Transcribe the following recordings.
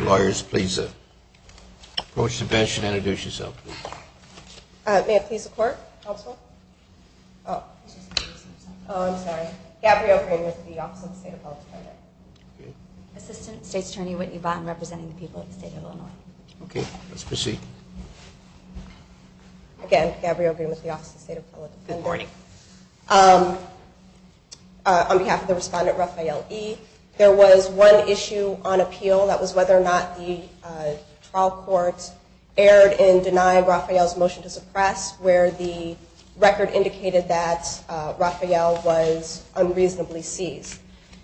Lawyers, please approach the bench and introduce yourself, please. May I please have the Court, Counsel? Oh, I'm sorry. Gabrielle Green with the Office of the State of Colorado. Assistant State's Attorney Whitney Vaughn representing the people of the State of Illinois. Okay, let's proceed. Good morning. On behalf of the respondent, Rafeal E., there was one issue on appeal. That was whether or not the trial court erred in denying Rafeal's motion to suppress, where the record indicated that Rafeal was unreasonably seized.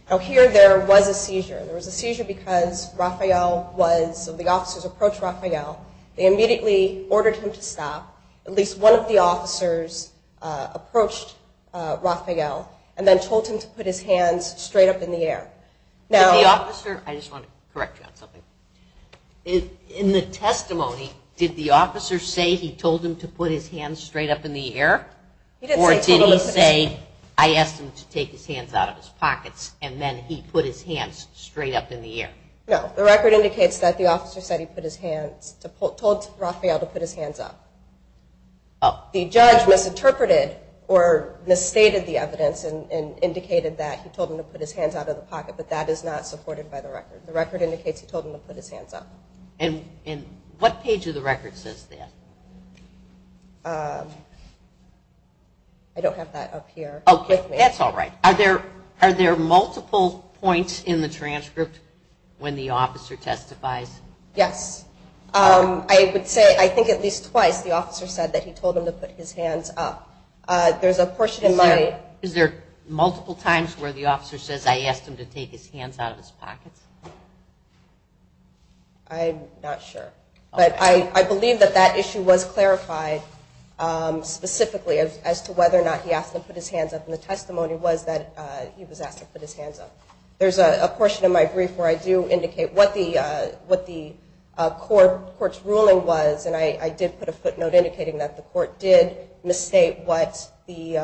Now, here there was a seizure. There was a seizure because Rafeal was, the officers approached Rafeal. They immediately ordered him to stop. At least one of the officers approached Rafeal and then told him to put his hands straight up in the air. Did the officer, I just want to correct you on something. In the testimony, did the officer say he told him to put his hands straight up in the air? Or did he say, I asked him to take his hands out of his pockets and then he put his hands straight up in the air? No, the record indicates that the officer said he put his hands, told Rafeal to put his hands up. The judge misinterpreted or misstated the evidence and indicated that he told him to put his hands out of the pocket, but that is not supported by the record. The record indicates he told him to put his hands up. And what page of the record says that? I don't have that up here. Okay, that's all right. Are there multiple points in the transcript when the officer testifies? Yes. I would say I think at least twice the officer said that he told him to put his hands up. Is there multiple times where the officer says I asked him to take his hands out of his pockets? I'm not sure. But I believe that that issue was clarified specifically as to whether or not he asked him to put his hands up. And the testimony was that he was asked to put his hands up. There's a portion of my brief where I do indicate what the court's ruling was, and I did put a footnote indicating that the court did misstate what the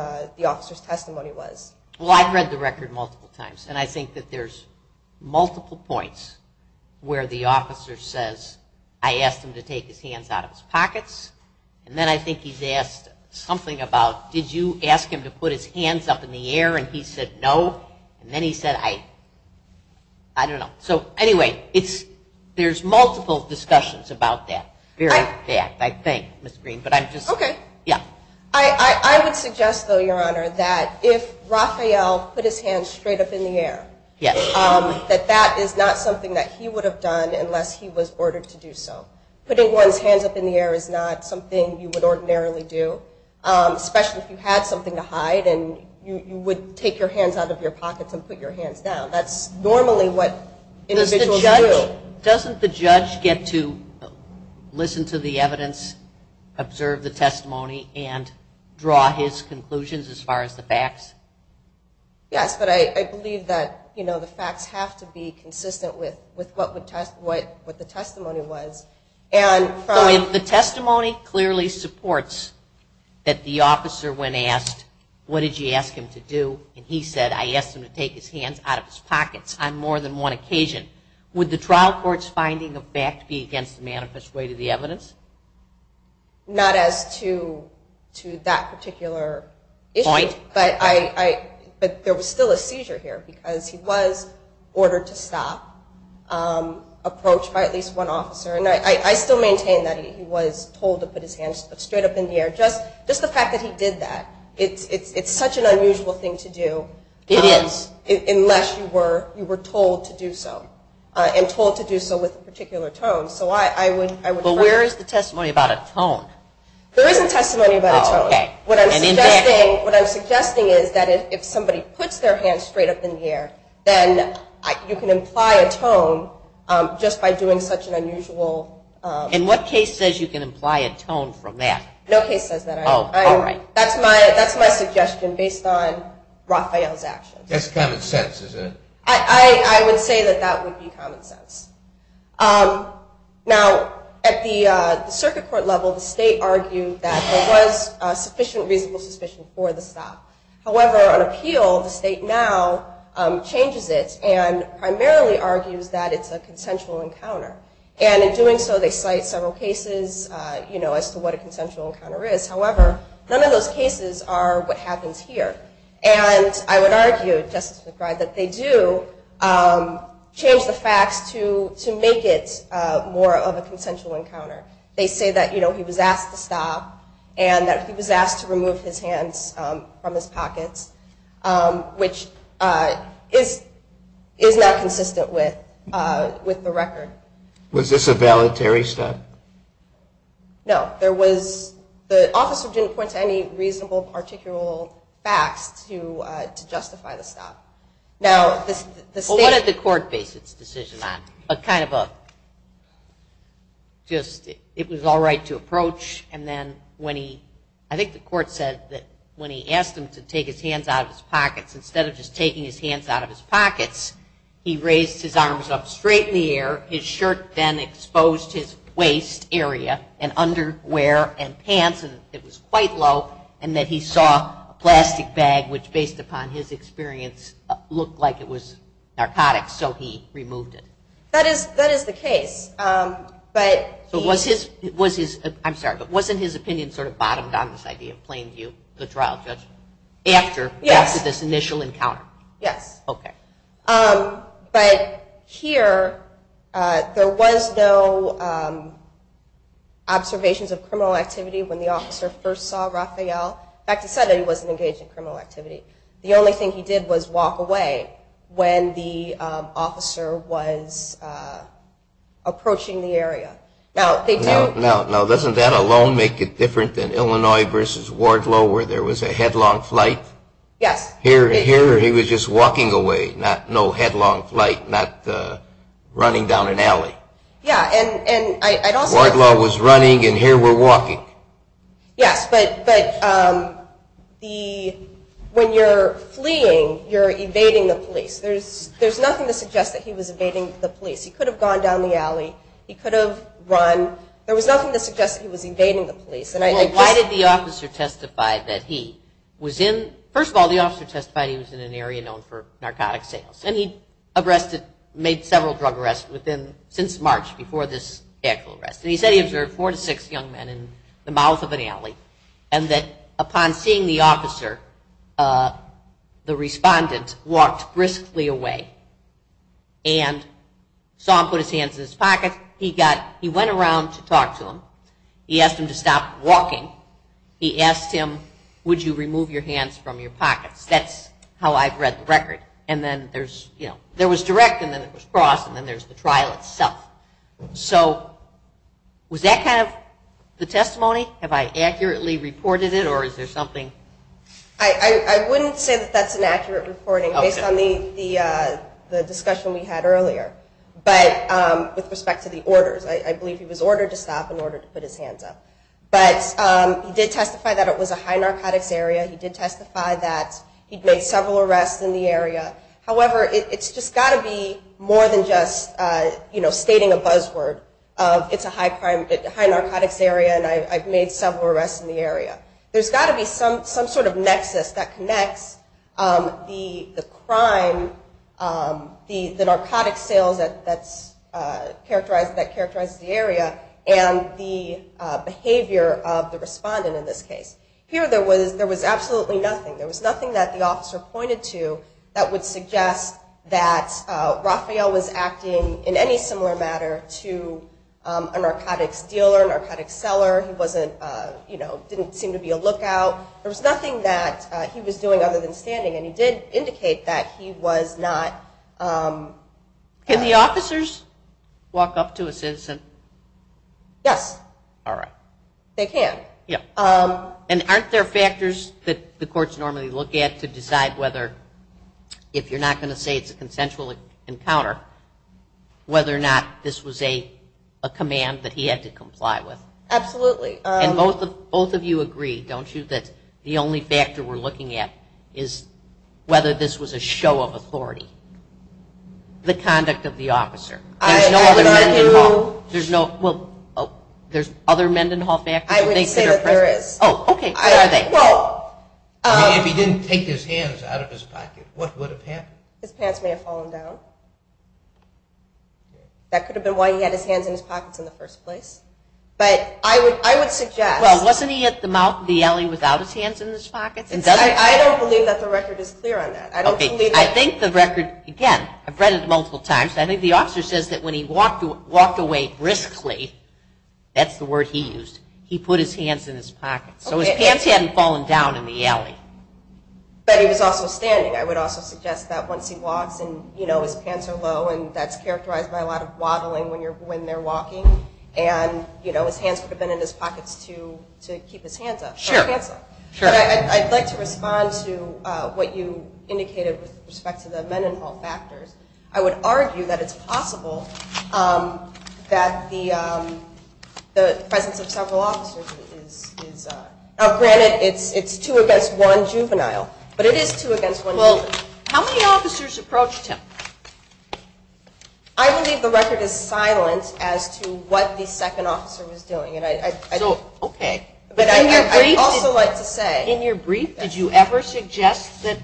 officer's testimony was. Well, I've read the record multiple times, and I think that there's multiple points where the officer says I asked him to take his hands out of his pockets, and then I think he's asked something about did you ask him to put his hands up in the air, and he said no, and then he said I don't know. So anyway, there's multiple discussions about that. Very bad, I think, Ms. Green. Okay. Yeah. I would suggest, though, Your Honor, that if Raphael put his hands straight up in the air, that that is not something that he would have done unless he was ordered to do so. Putting one's hands up in the air is not something you would ordinarily do, especially if you had something to hide and you would take your hands out of your pockets and put your hands down. That's normally what individuals do. Doesn't the judge get to listen to the evidence, observe the testimony, and draw his conclusions as far as the facts? Yes, but I believe that the facts have to be consistent with what the testimony was. So if the testimony clearly supports that the officer, when asked what did you ask him to do, and he said I asked him to take his hands out of his pockets on more than one occasion, would the trial court's finding of fact be against the manifest way to the evidence? Not as to that particular issue. Point. But there was still a seizure here because he was ordered to stop, approached by at least one officer. And I still maintain that he was told to put his hands straight up in the air. Just the fact that he did that, it's such an unusual thing to do. It is. Unless you were told to do so, and told to do so with a particular tone. But where is the testimony about a tone? There isn't testimony about a tone. What I'm suggesting is that if somebody puts their hands straight up in the air, then you can imply a tone just by doing such an unusual. And what case says you can imply a tone from that? No case says that. Oh, all right. That's my suggestion based on Rafael's actions. That's common sense, is it? I would say that that would be common sense. Now, at the circuit court level, the state argued that there was sufficient reasonable suspicion for the stop. However, on appeal, the state now changes it and primarily argues that it's a consensual encounter. And in doing so, they cite several cases as to what a consensual encounter is. However, none of those cases are what happens here. And I would argue, Justice McBride, that they do change the facts to make it more of a consensual encounter. They say that he was asked to stop and that he was asked to remove his hands from his pockets, which is not consistent with the record. Was this a valetary step? No. The officer didn't point to any reasonable, particular facts to justify the stop. Well, what did the court base its decision on? A kind of a just it was all right to approach. And then I think the court said that when he asked him to take his hands out of his pockets, instead of just taking his hands out of his pockets, he raised his arms up straight in the air. His shirt then exposed his waist area and underwear and pants. And it was quite low. And that he saw a plastic bag, which, based upon his experience, looked like it was narcotics. So he removed it. That is the case. I'm sorry, but wasn't his opinion sort of bottomed on this idea, plain view, the trial judge, after this initial encounter? Yes. Okay. But here, there was no observations of criminal activity when the officer first saw Rafael. In fact, he said that he wasn't engaged in criminal activity. The only thing he did was walk away when the officer was approaching the area. Now, doesn't that alone make it different than Illinois versus Wardlow, where there was a headlong flight? Yes. Here he was just walking away, no headlong flight, not running down an alley. Yeah. Wardlow was running, and here we're walking. Yes. But when you're fleeing, you're evading the police. There's nothing to suggest that he was evading the police. He could have gone down the alley. He could have run. There was nothing to suggest that he was evading the police. Well, why did the officer testify that he was in – first of all, the officer testified he was in an area known for narcotic sales, and he made several drug arrests since March before this actual arrest. And he said he observed four to six young men in the mouth of an alley, and that upon seeing the officer, the respondent walked briskly away and saw him put his hands in his pocket. He went around to talk to him. He asked him to stop walking. He asked him, would you remove your hands from your pockets? That's how I've read the record. And then there was direct, and then it was cross, and then there's the trial itself. So was that kind of the testimony? Have I accurately reported it, or is there something? I wouldn't say that that's an accurate reporting based on the discussion we had earlier. But with respect to the orders, I believe he was ordered to stop and ordered to put his hands up. But he did testify that it was a high narcotics area. He did testify that he'd made several arrests in the area. However, it's just got to be more than just stating a buzzword of it's a high narcotics area There's got to be some sort of nexus that connects the crime, the narcotics sales that characterize the area, and the behavior of the respondent in this case. Here there was absolutely nothing. There was nothing that the officer pointed to that would suggest that Rafael was acting, in any similar matter, to a narcotics dealer, a narcotics seller. He didn't seem to be a lookout. There was nothing that he was doing other than standing, and he did indicate that he was not. Can the officers walk up to a citizen? Yes. All right. They can. Yeah. And aren't there factors that the courts normally look at to decide whether, if you're not going to say it's a consensual encounter, whether or not this was a command that he had to comply with? Absolutely. And both of you agree, don't you, that the only factor we're looking at is whether this was a show of authority, the conduct of the officer. There's no other Mendenhall factor? I would say that there is. Oh, okay. Where are they? If he didn't take his hands out of his pocket, what would have happened? His pants may have fallen down. That could have been why he had his hands in his pockets in the first place. But I would suggest. Well, wasn't he at the alley without his hands in his pockets? I don't believe that the record is clear on that. I think the record, again, I've read it multiple times, I think the officer says that when he walked away briskly, that's the word he used, he put his hands in his pockets. So his pants hadn't fallen down in the alley. But he was also standing. I would also suggest that once he walks and his pants are low and that's characterized by a lot of waddling when they're walking and his hands could have been in his pockets to keep his hands up. Sure. But I'd like to respond to what you indicated with respect to the Mendenhall factors. I would argue that it's possible that the presence of several officers is up. Granted, it's two against one juvenile, but it is two against one juvenile. Well, how many officers approached him? I believe the record is silent as to what the second officer was doing. Okay. But I'd also like to say. In your brief, did you ever suggest that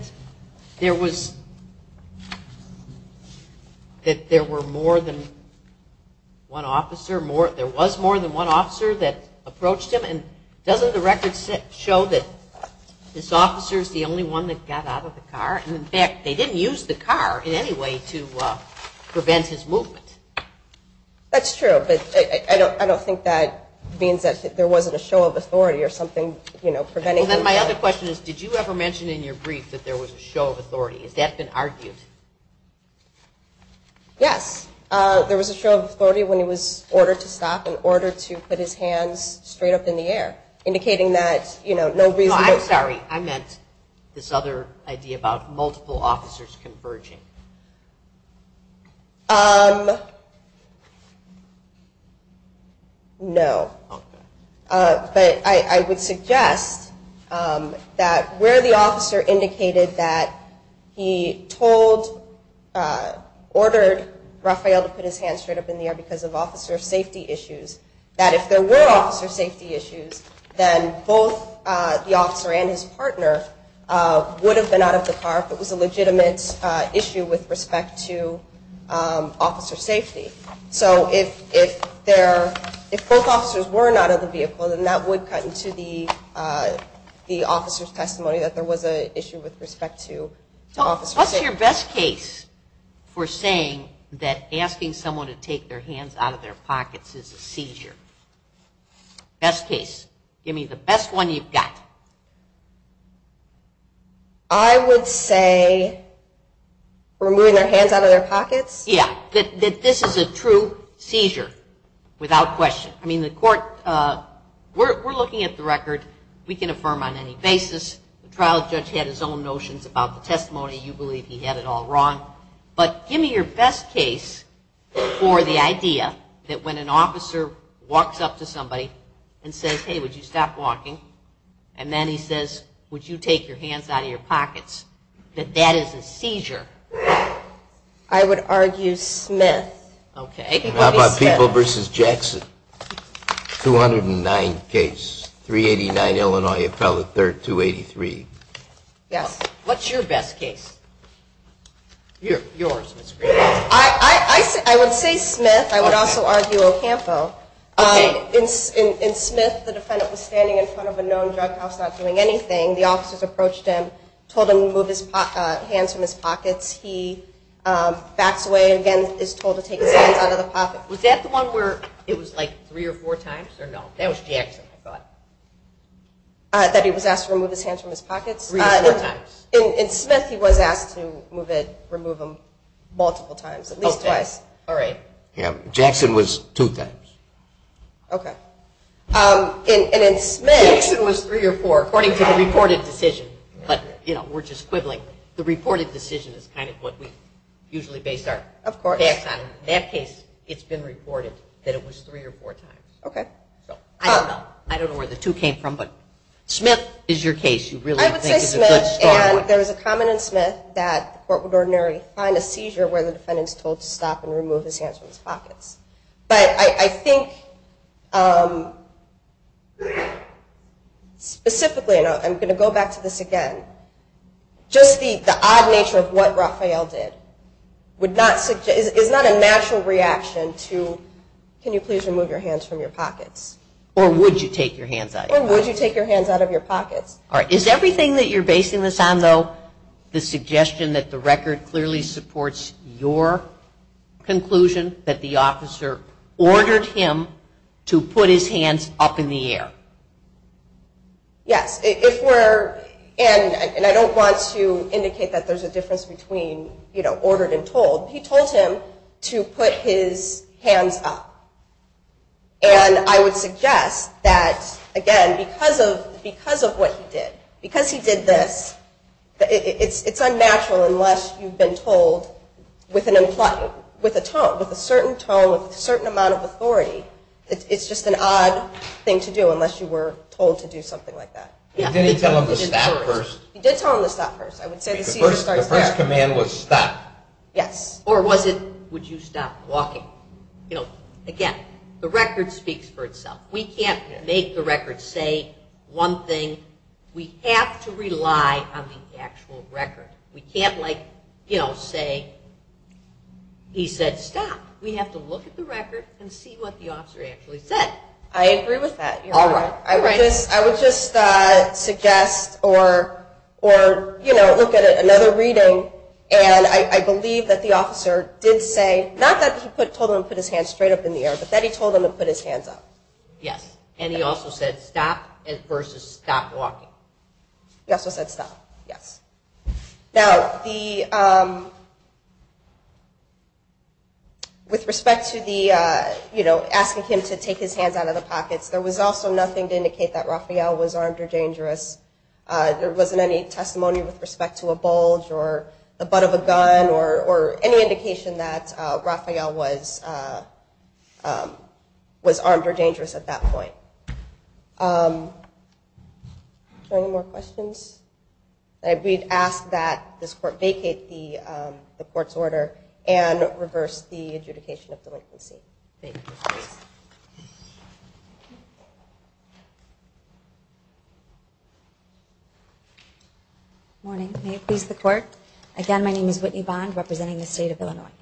there were more than one officer, there was more than one officer that approached him? And doesn't the record show that this officer is the only one that got out of the car? And, in fact, they didn't use the car in any way to prevent his movement. That's true. But I don't think that means that there wasn't a show of authority or something preventing him. Then my other question is, did you ever mention in your brief that there was a show of authority? Has that been argued? Yes. There was a show of authority when he was ordered to stop and ordered to put his hands straight up in the air, indicating that, you know, no reason to. No, I'm sorry. I meant this other idea about multiple officers converging. No. Okay. But I would suggest that where the officer indicated that he told, ordered Rafael to put his hands straight up in the air because of officer safety issues, that if there were officer safety issues, then both the officer and his partner would have been out of the car if it was a legitimate issue with respect to officer safety. So if both officers were not out of the vehicle, then that would cut into the officer's testimony that there was an issue with respect to officer safety. What's your best case for saying that asking someone to take their hands out of their pockets is a seizure? Best case. Give me the best one you've got. I would say removing their hands out of their pockets. Yeah, that this is a true seizure without question. I mean, the court, we're looking at the record. We can affirm on any basis. The trial judge had his own notions about the testimony. You believe he had it all wrong. But give me your best case for the idea that when an officer walks up to somebody and says, hey, would you stop walking, and then he says, would you take your hands out of your pockets, that that is a seizure. I would argue Smith. Okay. How about Peeble v. Jackson, 209 case, 389 Illinois appellate, 283. Yes. What's your best case? Yours, Ms. Green. I would say Smith. I would also argue Ocampo. Okay. In Smith, the defendant was standing in front of a known drug house not doing anything. The officers approached him, told him to remove his hands from his pockets. He backs away and, again, is told to take his hands out of the pockets. Was that the one where it was like three or four times or no? That was Jackson, I thought. That he was asked to remove his hands from his pockets? Three or four times. In Smith, he was asked to remove them multiple times, at least twice. Okay. All right. Yeah, Jackson was two times. Okay. And in Smith. Jackson was three or four, according to the reported decision. But, you know, we're just quibbling. The reported decision is kind of what we usually base our facts on. Of course. In that case, it's been reported that it was three or four times. Okay. So I don't know. I don't know where the two came from. But Smith is your case. You really think it's a good start. I would say Smith. And there was a comment in Smith that the court would ordinarily find a seizure where the defendant is told to stop and remove his hands from his pockets. But I think specifically, and I'm going to go back to this again, just the odd nature of what Raphael did is not a natural reaction to can you please remove your hands from your pockets? Or would you take your hands out of your pockets? Or would you take your hands out of your pockets? All right. Is everything that you're basing this on, though, the suggestion that the record clearly supports your conclusion that the officer ordered him to put his hands up in the air? Yes. If we're, and I don't want to indicate that there's a difference between, you know, ordered and told, he told him to put his hands up. And I would suggest that, again, because of what he did, because he did this, it's unnatural unless you've been told with a tone, with a certain tone, with a certain amount of authority. It's just an odd thing to do unless you were told to do something like that. Did he tell him to stop first? He did tell him to stop first. I would say the seizure starts there. The first command was stop. Yes. Or was it would you stop walking? You know, again, the record speaks for itself. We can't make the record say one thing. We have to rely on the actual record. We can't, like, you know, say, he said stop. We have to look at the record and see what the officer actually said. I agree with that, Your Honor. All right. I would just, I would just suggest or, or, you know, look at another reading, and I believe that the officer did say, not that he told him to put his hands straight up in the air, but that he told him to put his hands up. Yes. And he also said stop versus stop walking. He also said stop. Yes. Now, the, with respect to the, you know, asking him to take his hands out of the pockets, there was also nothing to indicate that Rafael was armed or dangerous. There wasn't any testimony with respect to a bulge or the butt of a gun or any indication that Rafael was, was armed or dangerous at that point. Are there any more questions? We've asked that this court vacate the court's order and reverse the adjudication of the latency. Thank you. Good morning. May it please the court. Again, my name is Whitney Bond representing the state of Illinois.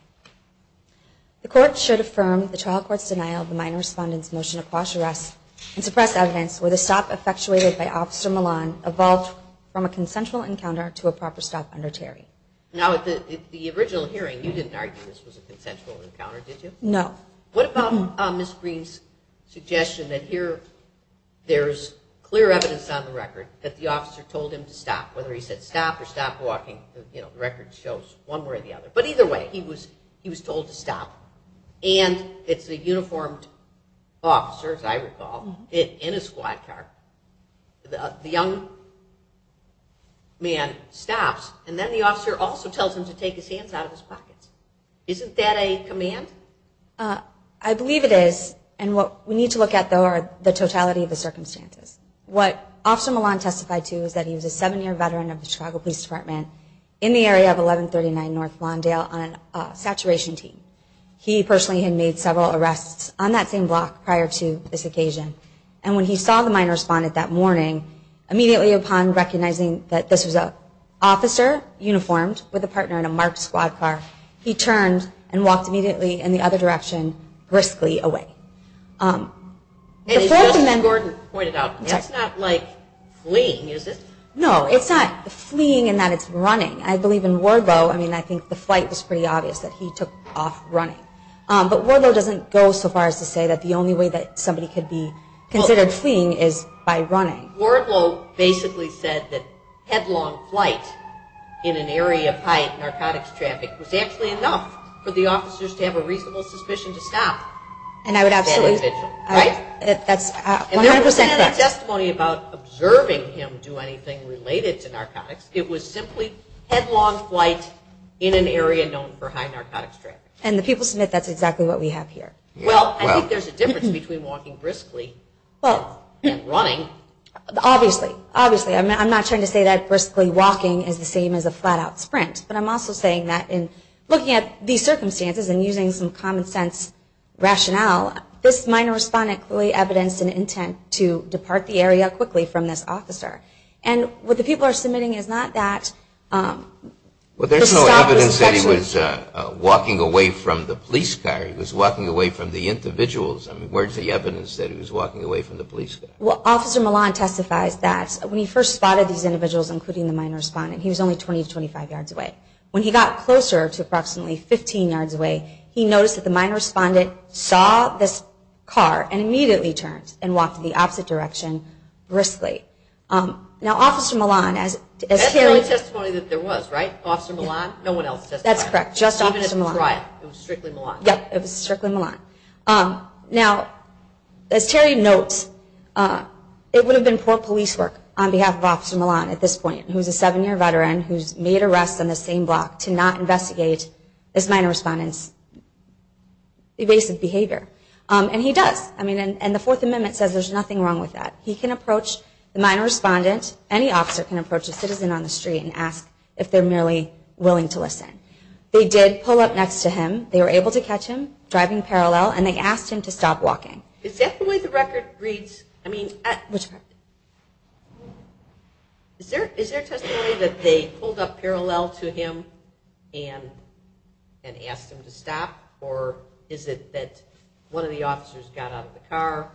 The court should affirm the trial court's denial of the minor respondent's motion to quash arrests and suppress evidence where the stop effectuated by Officer Milan evolved from a consensual encounter to a proper stop under Terry. Now, at the original hearing, you didn't argue this was a consensual encounter, did you? No. What about Ms. Green's suggestion that here there's clear evidence on the record that the officer told him to stop, whether he said stop or stop walking, you know, the record shows one way or the other. But either way, he was told to stop. And it's a uniformed officer, as I recall, in a squad car. The young man stops. And then the officer also tells him to take his hands out of his pockets. Isn't that a command? I believe it is. And what we need to look at, though, are the totality of the circumstances. What Officer Milan testified to is that he was a seven-year veteran of the saturation team. He personally had made several arrests on that same block prior to this occasion. And when he saw the minor respondent that morning, immediately upon recognizing that this was an officer, uniformed, with a partner in a marked squad car, he turned and walked immediately in the other direction, briskly away. And as Justice Gordon pointed out, it's not like fleeing, is it? No, it's not fleeing in that it's running. I believe in Wardlow, I mean, I think the flight was pretty obvious that he took off running. But Wardlow doesn't go so far as to say that the only way that somebody could be considered fleeing is by running. Wardlow basically said that headlong flight in an area of high narcotics traffic was actually enough for the officers to have a reasonable suspicion to stop that individual, right? That's 100% correct. And there wasn't any testimony about observing him do anything related to narcotics. It was simply headlong flight in an area known for high narcotics traffic. And the people submit that's exactly what we have here. Well, I think there's a difference between walking briskly and running. Obviously. Obviously. I'm not trying to say that briskly walking is the same as a flat-out sprint. But I'm also saying that in looking at these circumstances and using some common sense rationale, this minor respondent clearly evidenced an intent to depart the area quickly from this officer. And what the people are submitting is not that. Well, there's no evidence that he was walking away from the police car. He was walking away from the individuals. I mean, where's the evidence that he was walking away from the police car? Well, Officer Milan testifies that when he first spotted these individuals, including the minor respondent, he was only 20 to 25 yards away. When he got closer to approximately 15 yards away, he noticed that the minor respondent saw this car and immediately turned and walked in the opposite direction briskly. Now, Officer Milan, as Terry notes, it would have been poor police work on behalf of Officer Milan at this point, who's a seven-year veteran, who's made arrests on the same block, to not investigate this minor respondent's evasive behavior. And he does. I mean, this is a minor respondent. He can approach the minor respondent and say, well, this is a minor respondent. Any officer can approach a citizen on the street and ask if they're merely willing to listen. They did pull up next to him. They were able to catch him driving parallel, and they asked him to stop walking. Is that the way the record reads? I mean, is there testimony that they pulled up parallel to him and asked him to stop? Or is it that one of the officers got out of the car?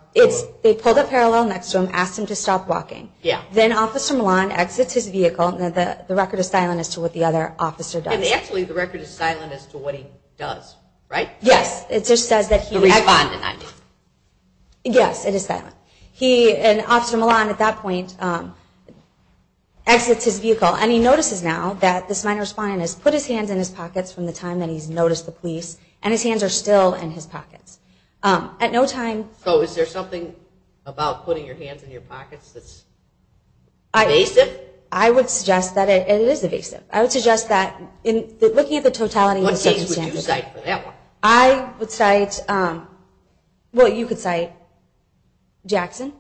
They pulled up parallel next to him, asked him to stop walking. Then Officer Milan exits his vehicle, and the record is silent as to what the other officer does. And actually, the record is silent as to what he does, right? Yes. It just says that he… The respondent, I mean. Yes, it is silent. And Officer Milan, at that point, exits his vehicle, and he notices now that this minor respondent has put his hands in his pockets from the time that he's noticed the police, and his hands are still in his pockets. At no time… So is there something about putting your hands in your pockets that's evasive? I would suggest that it is evasive. I would suggest that, looking at the totality of the circumstances… What case would you cite for that one? I would cite… Well, you could cite Jackson.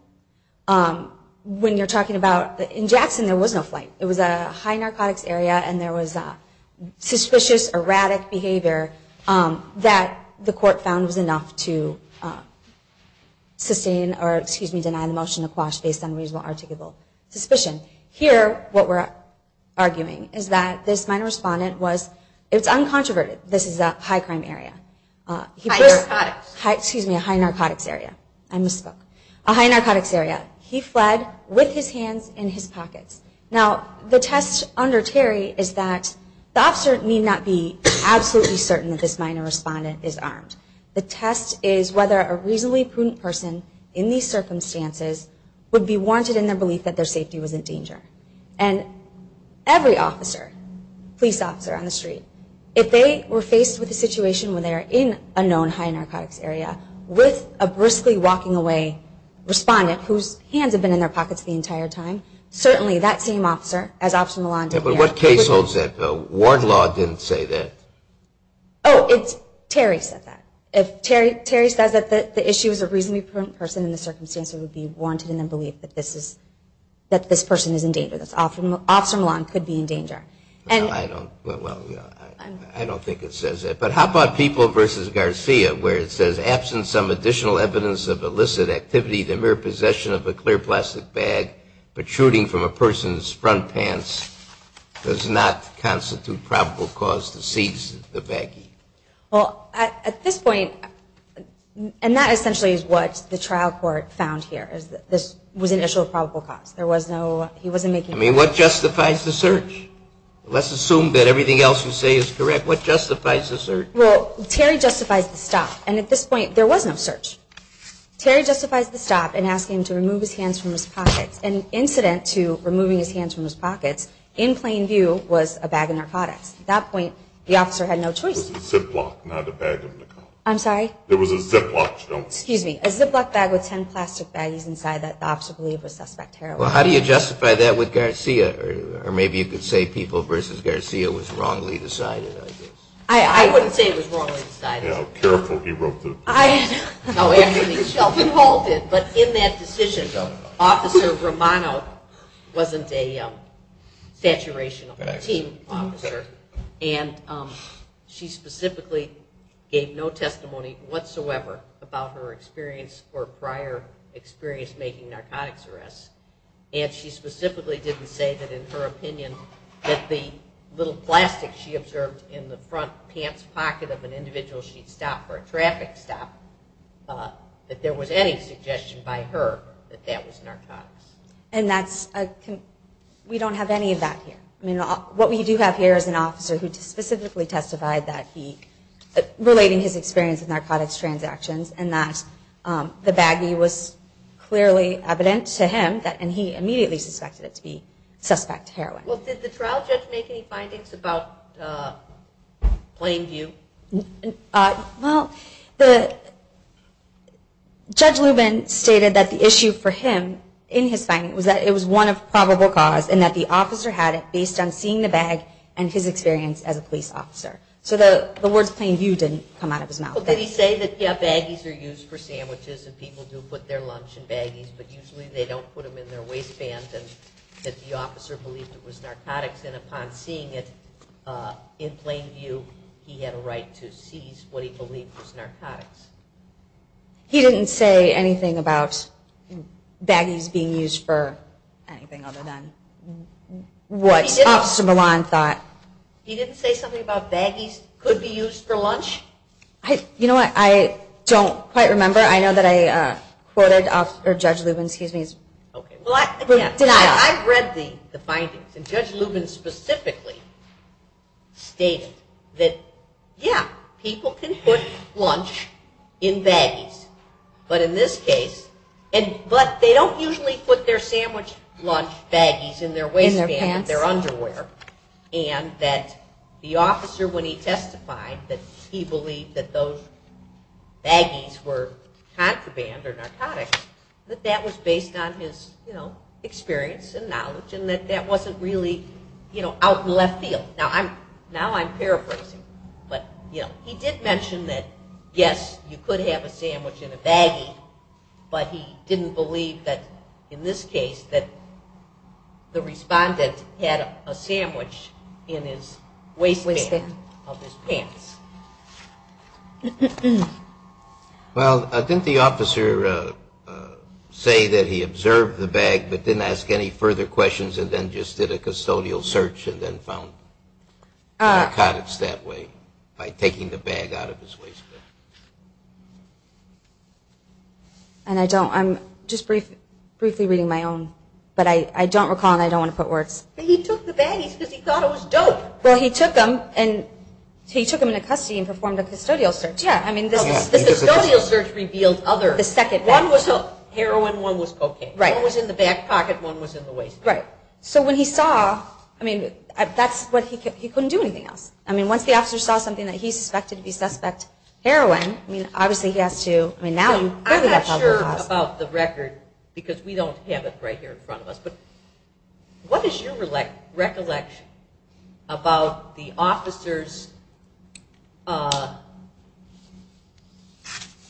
When you're talking about… In Jackson, there was no flight. It was a high narcotics area, and there was suspicious, erratic behavior that the court found was enough to sustain, or excuse me, deny the motion to quash based on reasonable, articulable suspicion. Here, what we're arguing is that this minor respondent was… It's uncontroverted. This is a high crime area. High narcotics. Excuse me, a high narcotics area. I misspoke. A high narcotics area. He fled with his hands in his pockets. Now, the test under Terry is that the officer need not be absolutely certain that this minor respondent is armed. The test is whether a reasonably prudent person, in these circumstances, would be warranted in their belief that their safety was in danger. And every officer, police officer on the street, if they were faced with a situation where they're in a known high narcotics area with a briskly walking away respondent, whose hands have been in their pockets the entire time, certainly that same officer, as Officer Melande… Yeah, but what case holds that? Ward law didn't say that. Oh, Terry said that. If Terry says that the issue is a reasonably prudent person, in this circumstance, it would be warranted in their belief that this person is in danger, that Officer Melande could be in danger. Well, I don't think it says that. But how about People v. Garcia, where it says, absent some additional evidence of illicit activity, the mere possession of a clear plastic bag protruding from a person's front pants does not constitute probable cause to seize the baggie. Well, at this point, and that essentially is what the trial court found here, is that this was initial probable cause. There was no, he wasn't making… I mean, what justifies the search? Let's assume that everything else you say is correct. What justifies the search? Well, Terry justifies the stop. And at this point, there was no search. Terry justifies the stop in asking him to remove his hands from his pockets. An incident to removing his hands from his pockets, in plain view, was a bag of narcotics. At that point, the officer had no choice. It was a Ziploc, not a bag of narcotics. I'm sorry? It was a Ziploc. Excuse me. A Ziploc bag with 10 plastic baggies inside that the officer believed was suspect heroin. Well, how do you justify that with Garcia? Or maybe you could say People v. Garcia was wrongly decided. I wouldn't say it was wrongly decided. Yeah, careful. He wrote the… No, actually, Sheldon Hall did. But in that decision, Officer Romano wasn't a saturation team officer. And she specifically gave no testimony whatsoever about her experience or prior experience making narcotics arrests. And she specifically didn't say that, in her opinion, that the little plastic she observed in the front pants pocket of an individual she'd stop for a traffic stop, that there was any suggestion by her that that was narcotics. And that's… We don't have any of that here. I mean, what we do have here is an officer who specifically testified that he… relating his experience with narcotics transactions, and that the baggie was clearly evident to him, and he immediately suspected it to be suspect heroin. Well, did the trial judge make any findings about plain view? Well, the… Judge Lubin stated that the issue for him in his finding was that it was one of probable cause and that the officer had it based on seeing the bag and his experience as a police officer. So the words plain view didn't come out of his mouth. Well, did he say that baggies are used for sandwiches, and people do put their lunch in baggies, but usually they don't put them in their waistbands, and that the officer believed it was narcotics, and upon seeing it in plain view, he had a right to seize what he believed was narcotics? He didn't say anything about anything other than what Officer Milan thought. He didn't say something about baggies could be used for lunch? You know what, I don't quite remember. I know that I quoted Judge Lubin's… Well, I've read the findings, and Judge Lubin specifically stated that, yeah, people can put lunch in baggies, but in this case, but they don't usually put their sandwich lunch baggies in their waistbands, in their underwear, and that the officer, when he testified that he believed that those baggies were contraband or narcotics, that that was based on his experience and knowledge, and that that wasn't really out in left field. Now I'm paraphrasing, but he did mention that, yes, you could have a sandwich in a baggie, but he didn't believe that, in this case, that the respondent had a sandwich in his waistband of his pants. Well, didn't the officer say that he observed the bag, but didn't ask any further questions, and then just did a custodial search and then found narcotics that way, by taking the bag out of his waistband? And I don't, I'm just briefly reading my own, but I don't recall, and I don't want to put words. But he took the baggies because he thought it was dope. Well, he took them, and he took them into custody and performed a custodial search. Yeah, I mean, the custodial search revealed other. The second bag. One was heroin, one was cocaine. Right. One was in the back pocket, one was in the waistband. Right. So when he saw, I mean, that's what he, he couldn't do anything else. I mean, once the officer saw something that he suspected to be suspect, heroin, I mean, obviously he has to, I mean, now you. I'm not sure about the record, because we don't have it right here in front of us, but what is your recollection about the officer's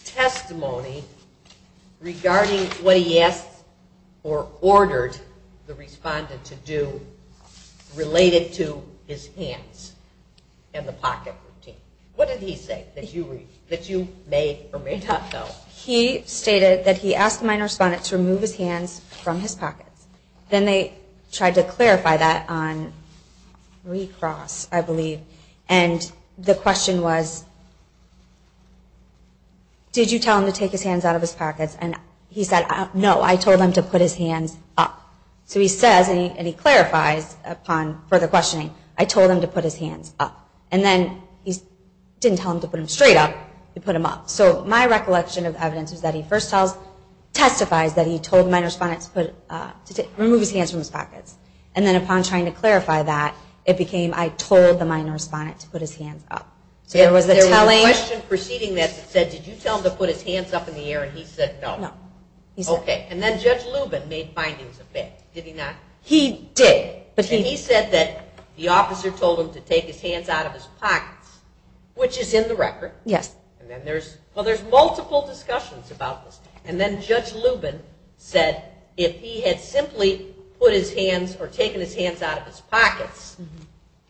testimony regarding what he asked or ordered the respondent to do, related to his hands and the pocket routine? What did he say that you made or made not know? He stated that he asked the minor respondent to remove his hands from his pockets. Then they tried to clarify that on recross, I believe, and the question was, did you tell him to take his hands out of his pockets? And he said, no, I told him to put his hands up. So he says, and he clarifies upon further questioning, I told him to put his hands up. And then he didn't tell him to put them straight up, he put them up. So my recollection of evidence is that he first tells, testifies that he told the minor respondent to remove his hands from his pockets. And then upon trying to clarify that, it became, I told the minor respondent to put his hands up. So there was a telling. There was a question preceding that that said, did you tell him to put his hands up in the air? And he said, no. Okay. And then Judge Lubin made findings of it. Did he not? He did. And he said that the officer told him to take his hands out of his pockets, which is in the record. Yes. And then there's, well, there's multiple discussions about this. And then Judge Lubin said, if he had simply put his hands or taken his hands out of his pockets,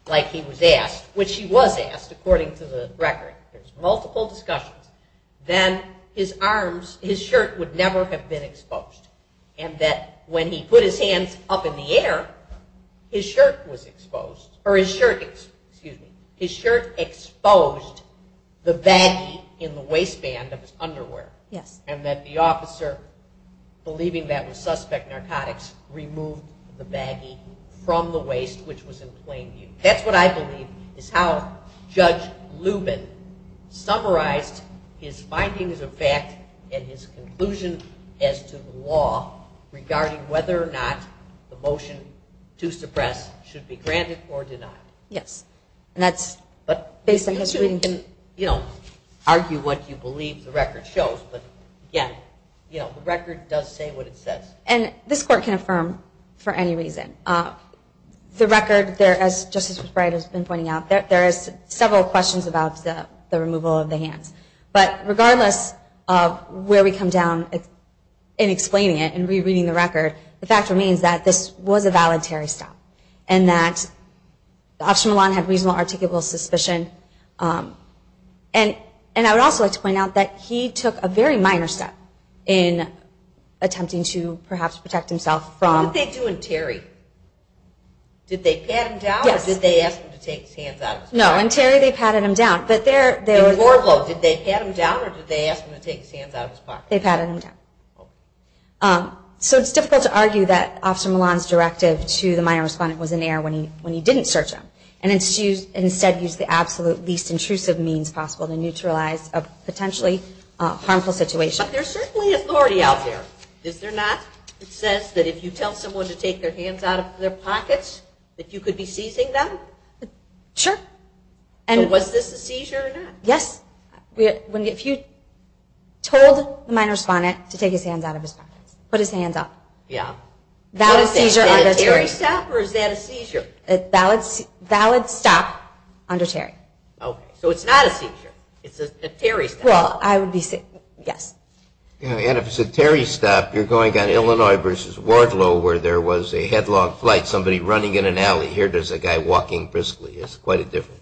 like he was asked, which he was asked, according to the record, there's multiple discussions, then his arms, his shirt would never have been exposed. And that when he put his hands up in the air, his shirt was exposed, or his shirt, excuse me, his shirt exposed the baggie in the waistband of his underwear. Yes. And that the officer, believing that was suspect narcotics, removed the baggie from the waist, which was in plain view. That's what I believe is how Judge Lubin summarized his findings of fact and his conclusion as to the law regarding whether or not the motion to suppress should be granted or denied. Yes. And that's based on his reading. You can, you know, argue what you believe the record shows, but, again, you know, the record does say what it says. And this court can affirm for any reason. The record, as Justice McBride has been pointing out, there is several questions about the removal of the hands. But regardless of where we come down in explaining it and rereading the record, the fact remains that this was a valid Terry stop and that Officer Milan had reasonable articulable suspicion. And I would also like to point out that he took a very minor step in attempting to perhaps protect himself from. What did they do in Terry? Did they pat him down? Yes. Or did they ask him to take his hands out of his pocket? No. In Terry they patted him down. But there. Did they pat him down or did they ask him to take his hands out of his pocket? They patted him down. So it's difficult to argue that Officer Milan's directive to the minor respondent was in error when he didn't search him and instead used the absolute least intrusive means possible to neutralize a potentially harmful situation. But there's certainly authority out there. Is there not? It says that if you tell someone to take their hands out of their pockets, that you could be seizing them? Sure. So was this a seizure or not? Yes. If you told the minor respondent to take his hands out of his pockets, put his hands up. Yeah. Valid seizure under Terry. Is that a Terry stop or is that a seizure? Valid stop under Terry. Okay. So it's not a seizure. It's a Terry stop. Well, I would be saying yes. And if it's a Terry stop, you're going on Illinois versus Wardlow where there was a headlong flight, somebody running in an alley, here there's a guy walking briskly. It's quite a difference.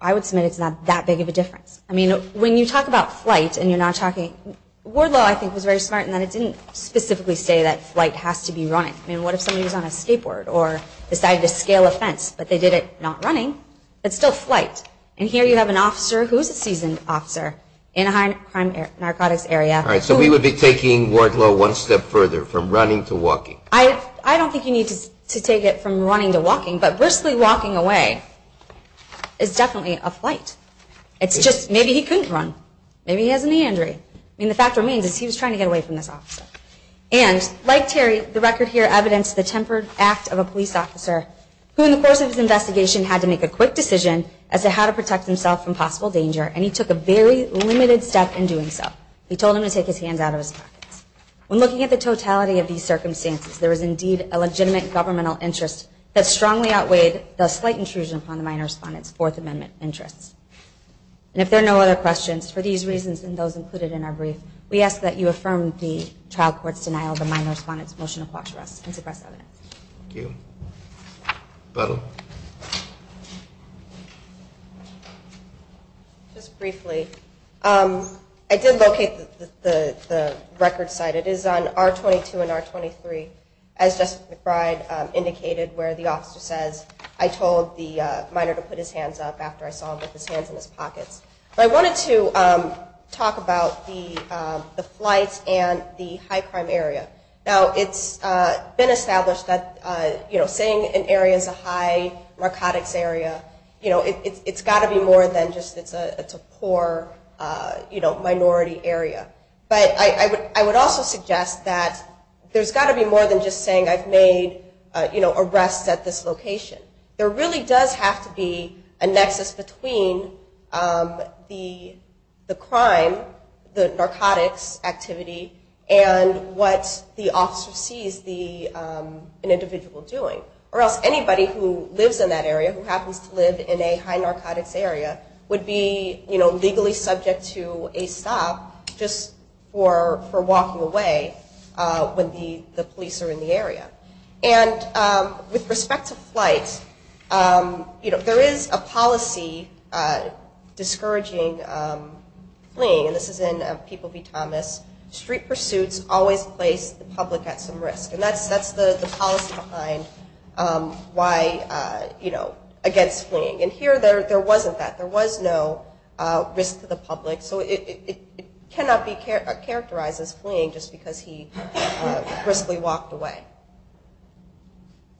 I would submit it's not that big of a difference. I mean, when you talk about flight and you're not talking – Wardlow, I think, was very smart in that it didn't specifically say that flight has to be running. I mean, what if somebody was on a skateboard or decided to scale a fence, but they did it not running but still flight? And here you have an officer who is a seasoned officer in a high-crime narcotics area. All right. So we would be taking Wardlow one step further from running to walking? I don't think you need to take it from running to walking, but briskly walking away is definitely a flight. It's just maybe he couldn't run. Maybe he has a knee injury. I mean, the fact remains is he was trying to get away from this officer. And, like Terry, the record here evidenced the tempered act of a police officer who, in the course of his investigation, had to make a quick decision as to how to protect himself from possible danger, and he took a very limited step in doing so. He told him to take his hands out of his pockets. When looking at the totality of these circumstances, there is indeed a legitimate governmental interest that strongly outweighed the slight intrusion upon the minor respondent's Fourth Amendment interests. And if there are no other questions, for these reasons and those included in our brief, we ask that you affirm the trial court's denial of the minor respondent's motion to quash arrests and suppress evidence. Thank you. Butler? Just briefly. I did locate the record site. It is on R-22 and R-23, as Jessica McBride indicated, where the officer says, I told the minor to put his hands up after I saw him with his hands in his pockets. But I wanted to talk about the flights and the high crime area. Now, it's been established that, you know, saying an area is a high narcotics area, you know, it's got to be more than just it's a poor, you know, minority area. But I would also suggest that there's got to be more than just saying I've made, you know, arrests at this location. There really does have to be a nexus between the crime, the narcotics activity, and what the officer sees the individual doing. Or else anybody who lives in that area, who happens to live in a high narcotics area, would be, you know, legally subject to a stop just for walking away when the police are in the area. And with respect to flights, you know, there is a policy discouraging fleeing. And this is in People v. Thomas. Street pursuits always place the public at some risk. And that's the policy behind why, you know, against fleeing. And here there wasn't that. There was no risk to the public. So it cannot be characterized as fleeing just because he riskily walked away.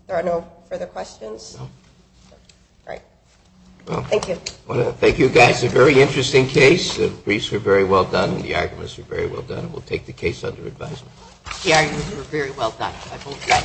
Are there no further questions? No. All right. Thank you. Thank you, guys. A very interesting case. The briefs were very well done. The arguments were very well done. We'll take the case under advisement. The arguments were very well done. I vote yes.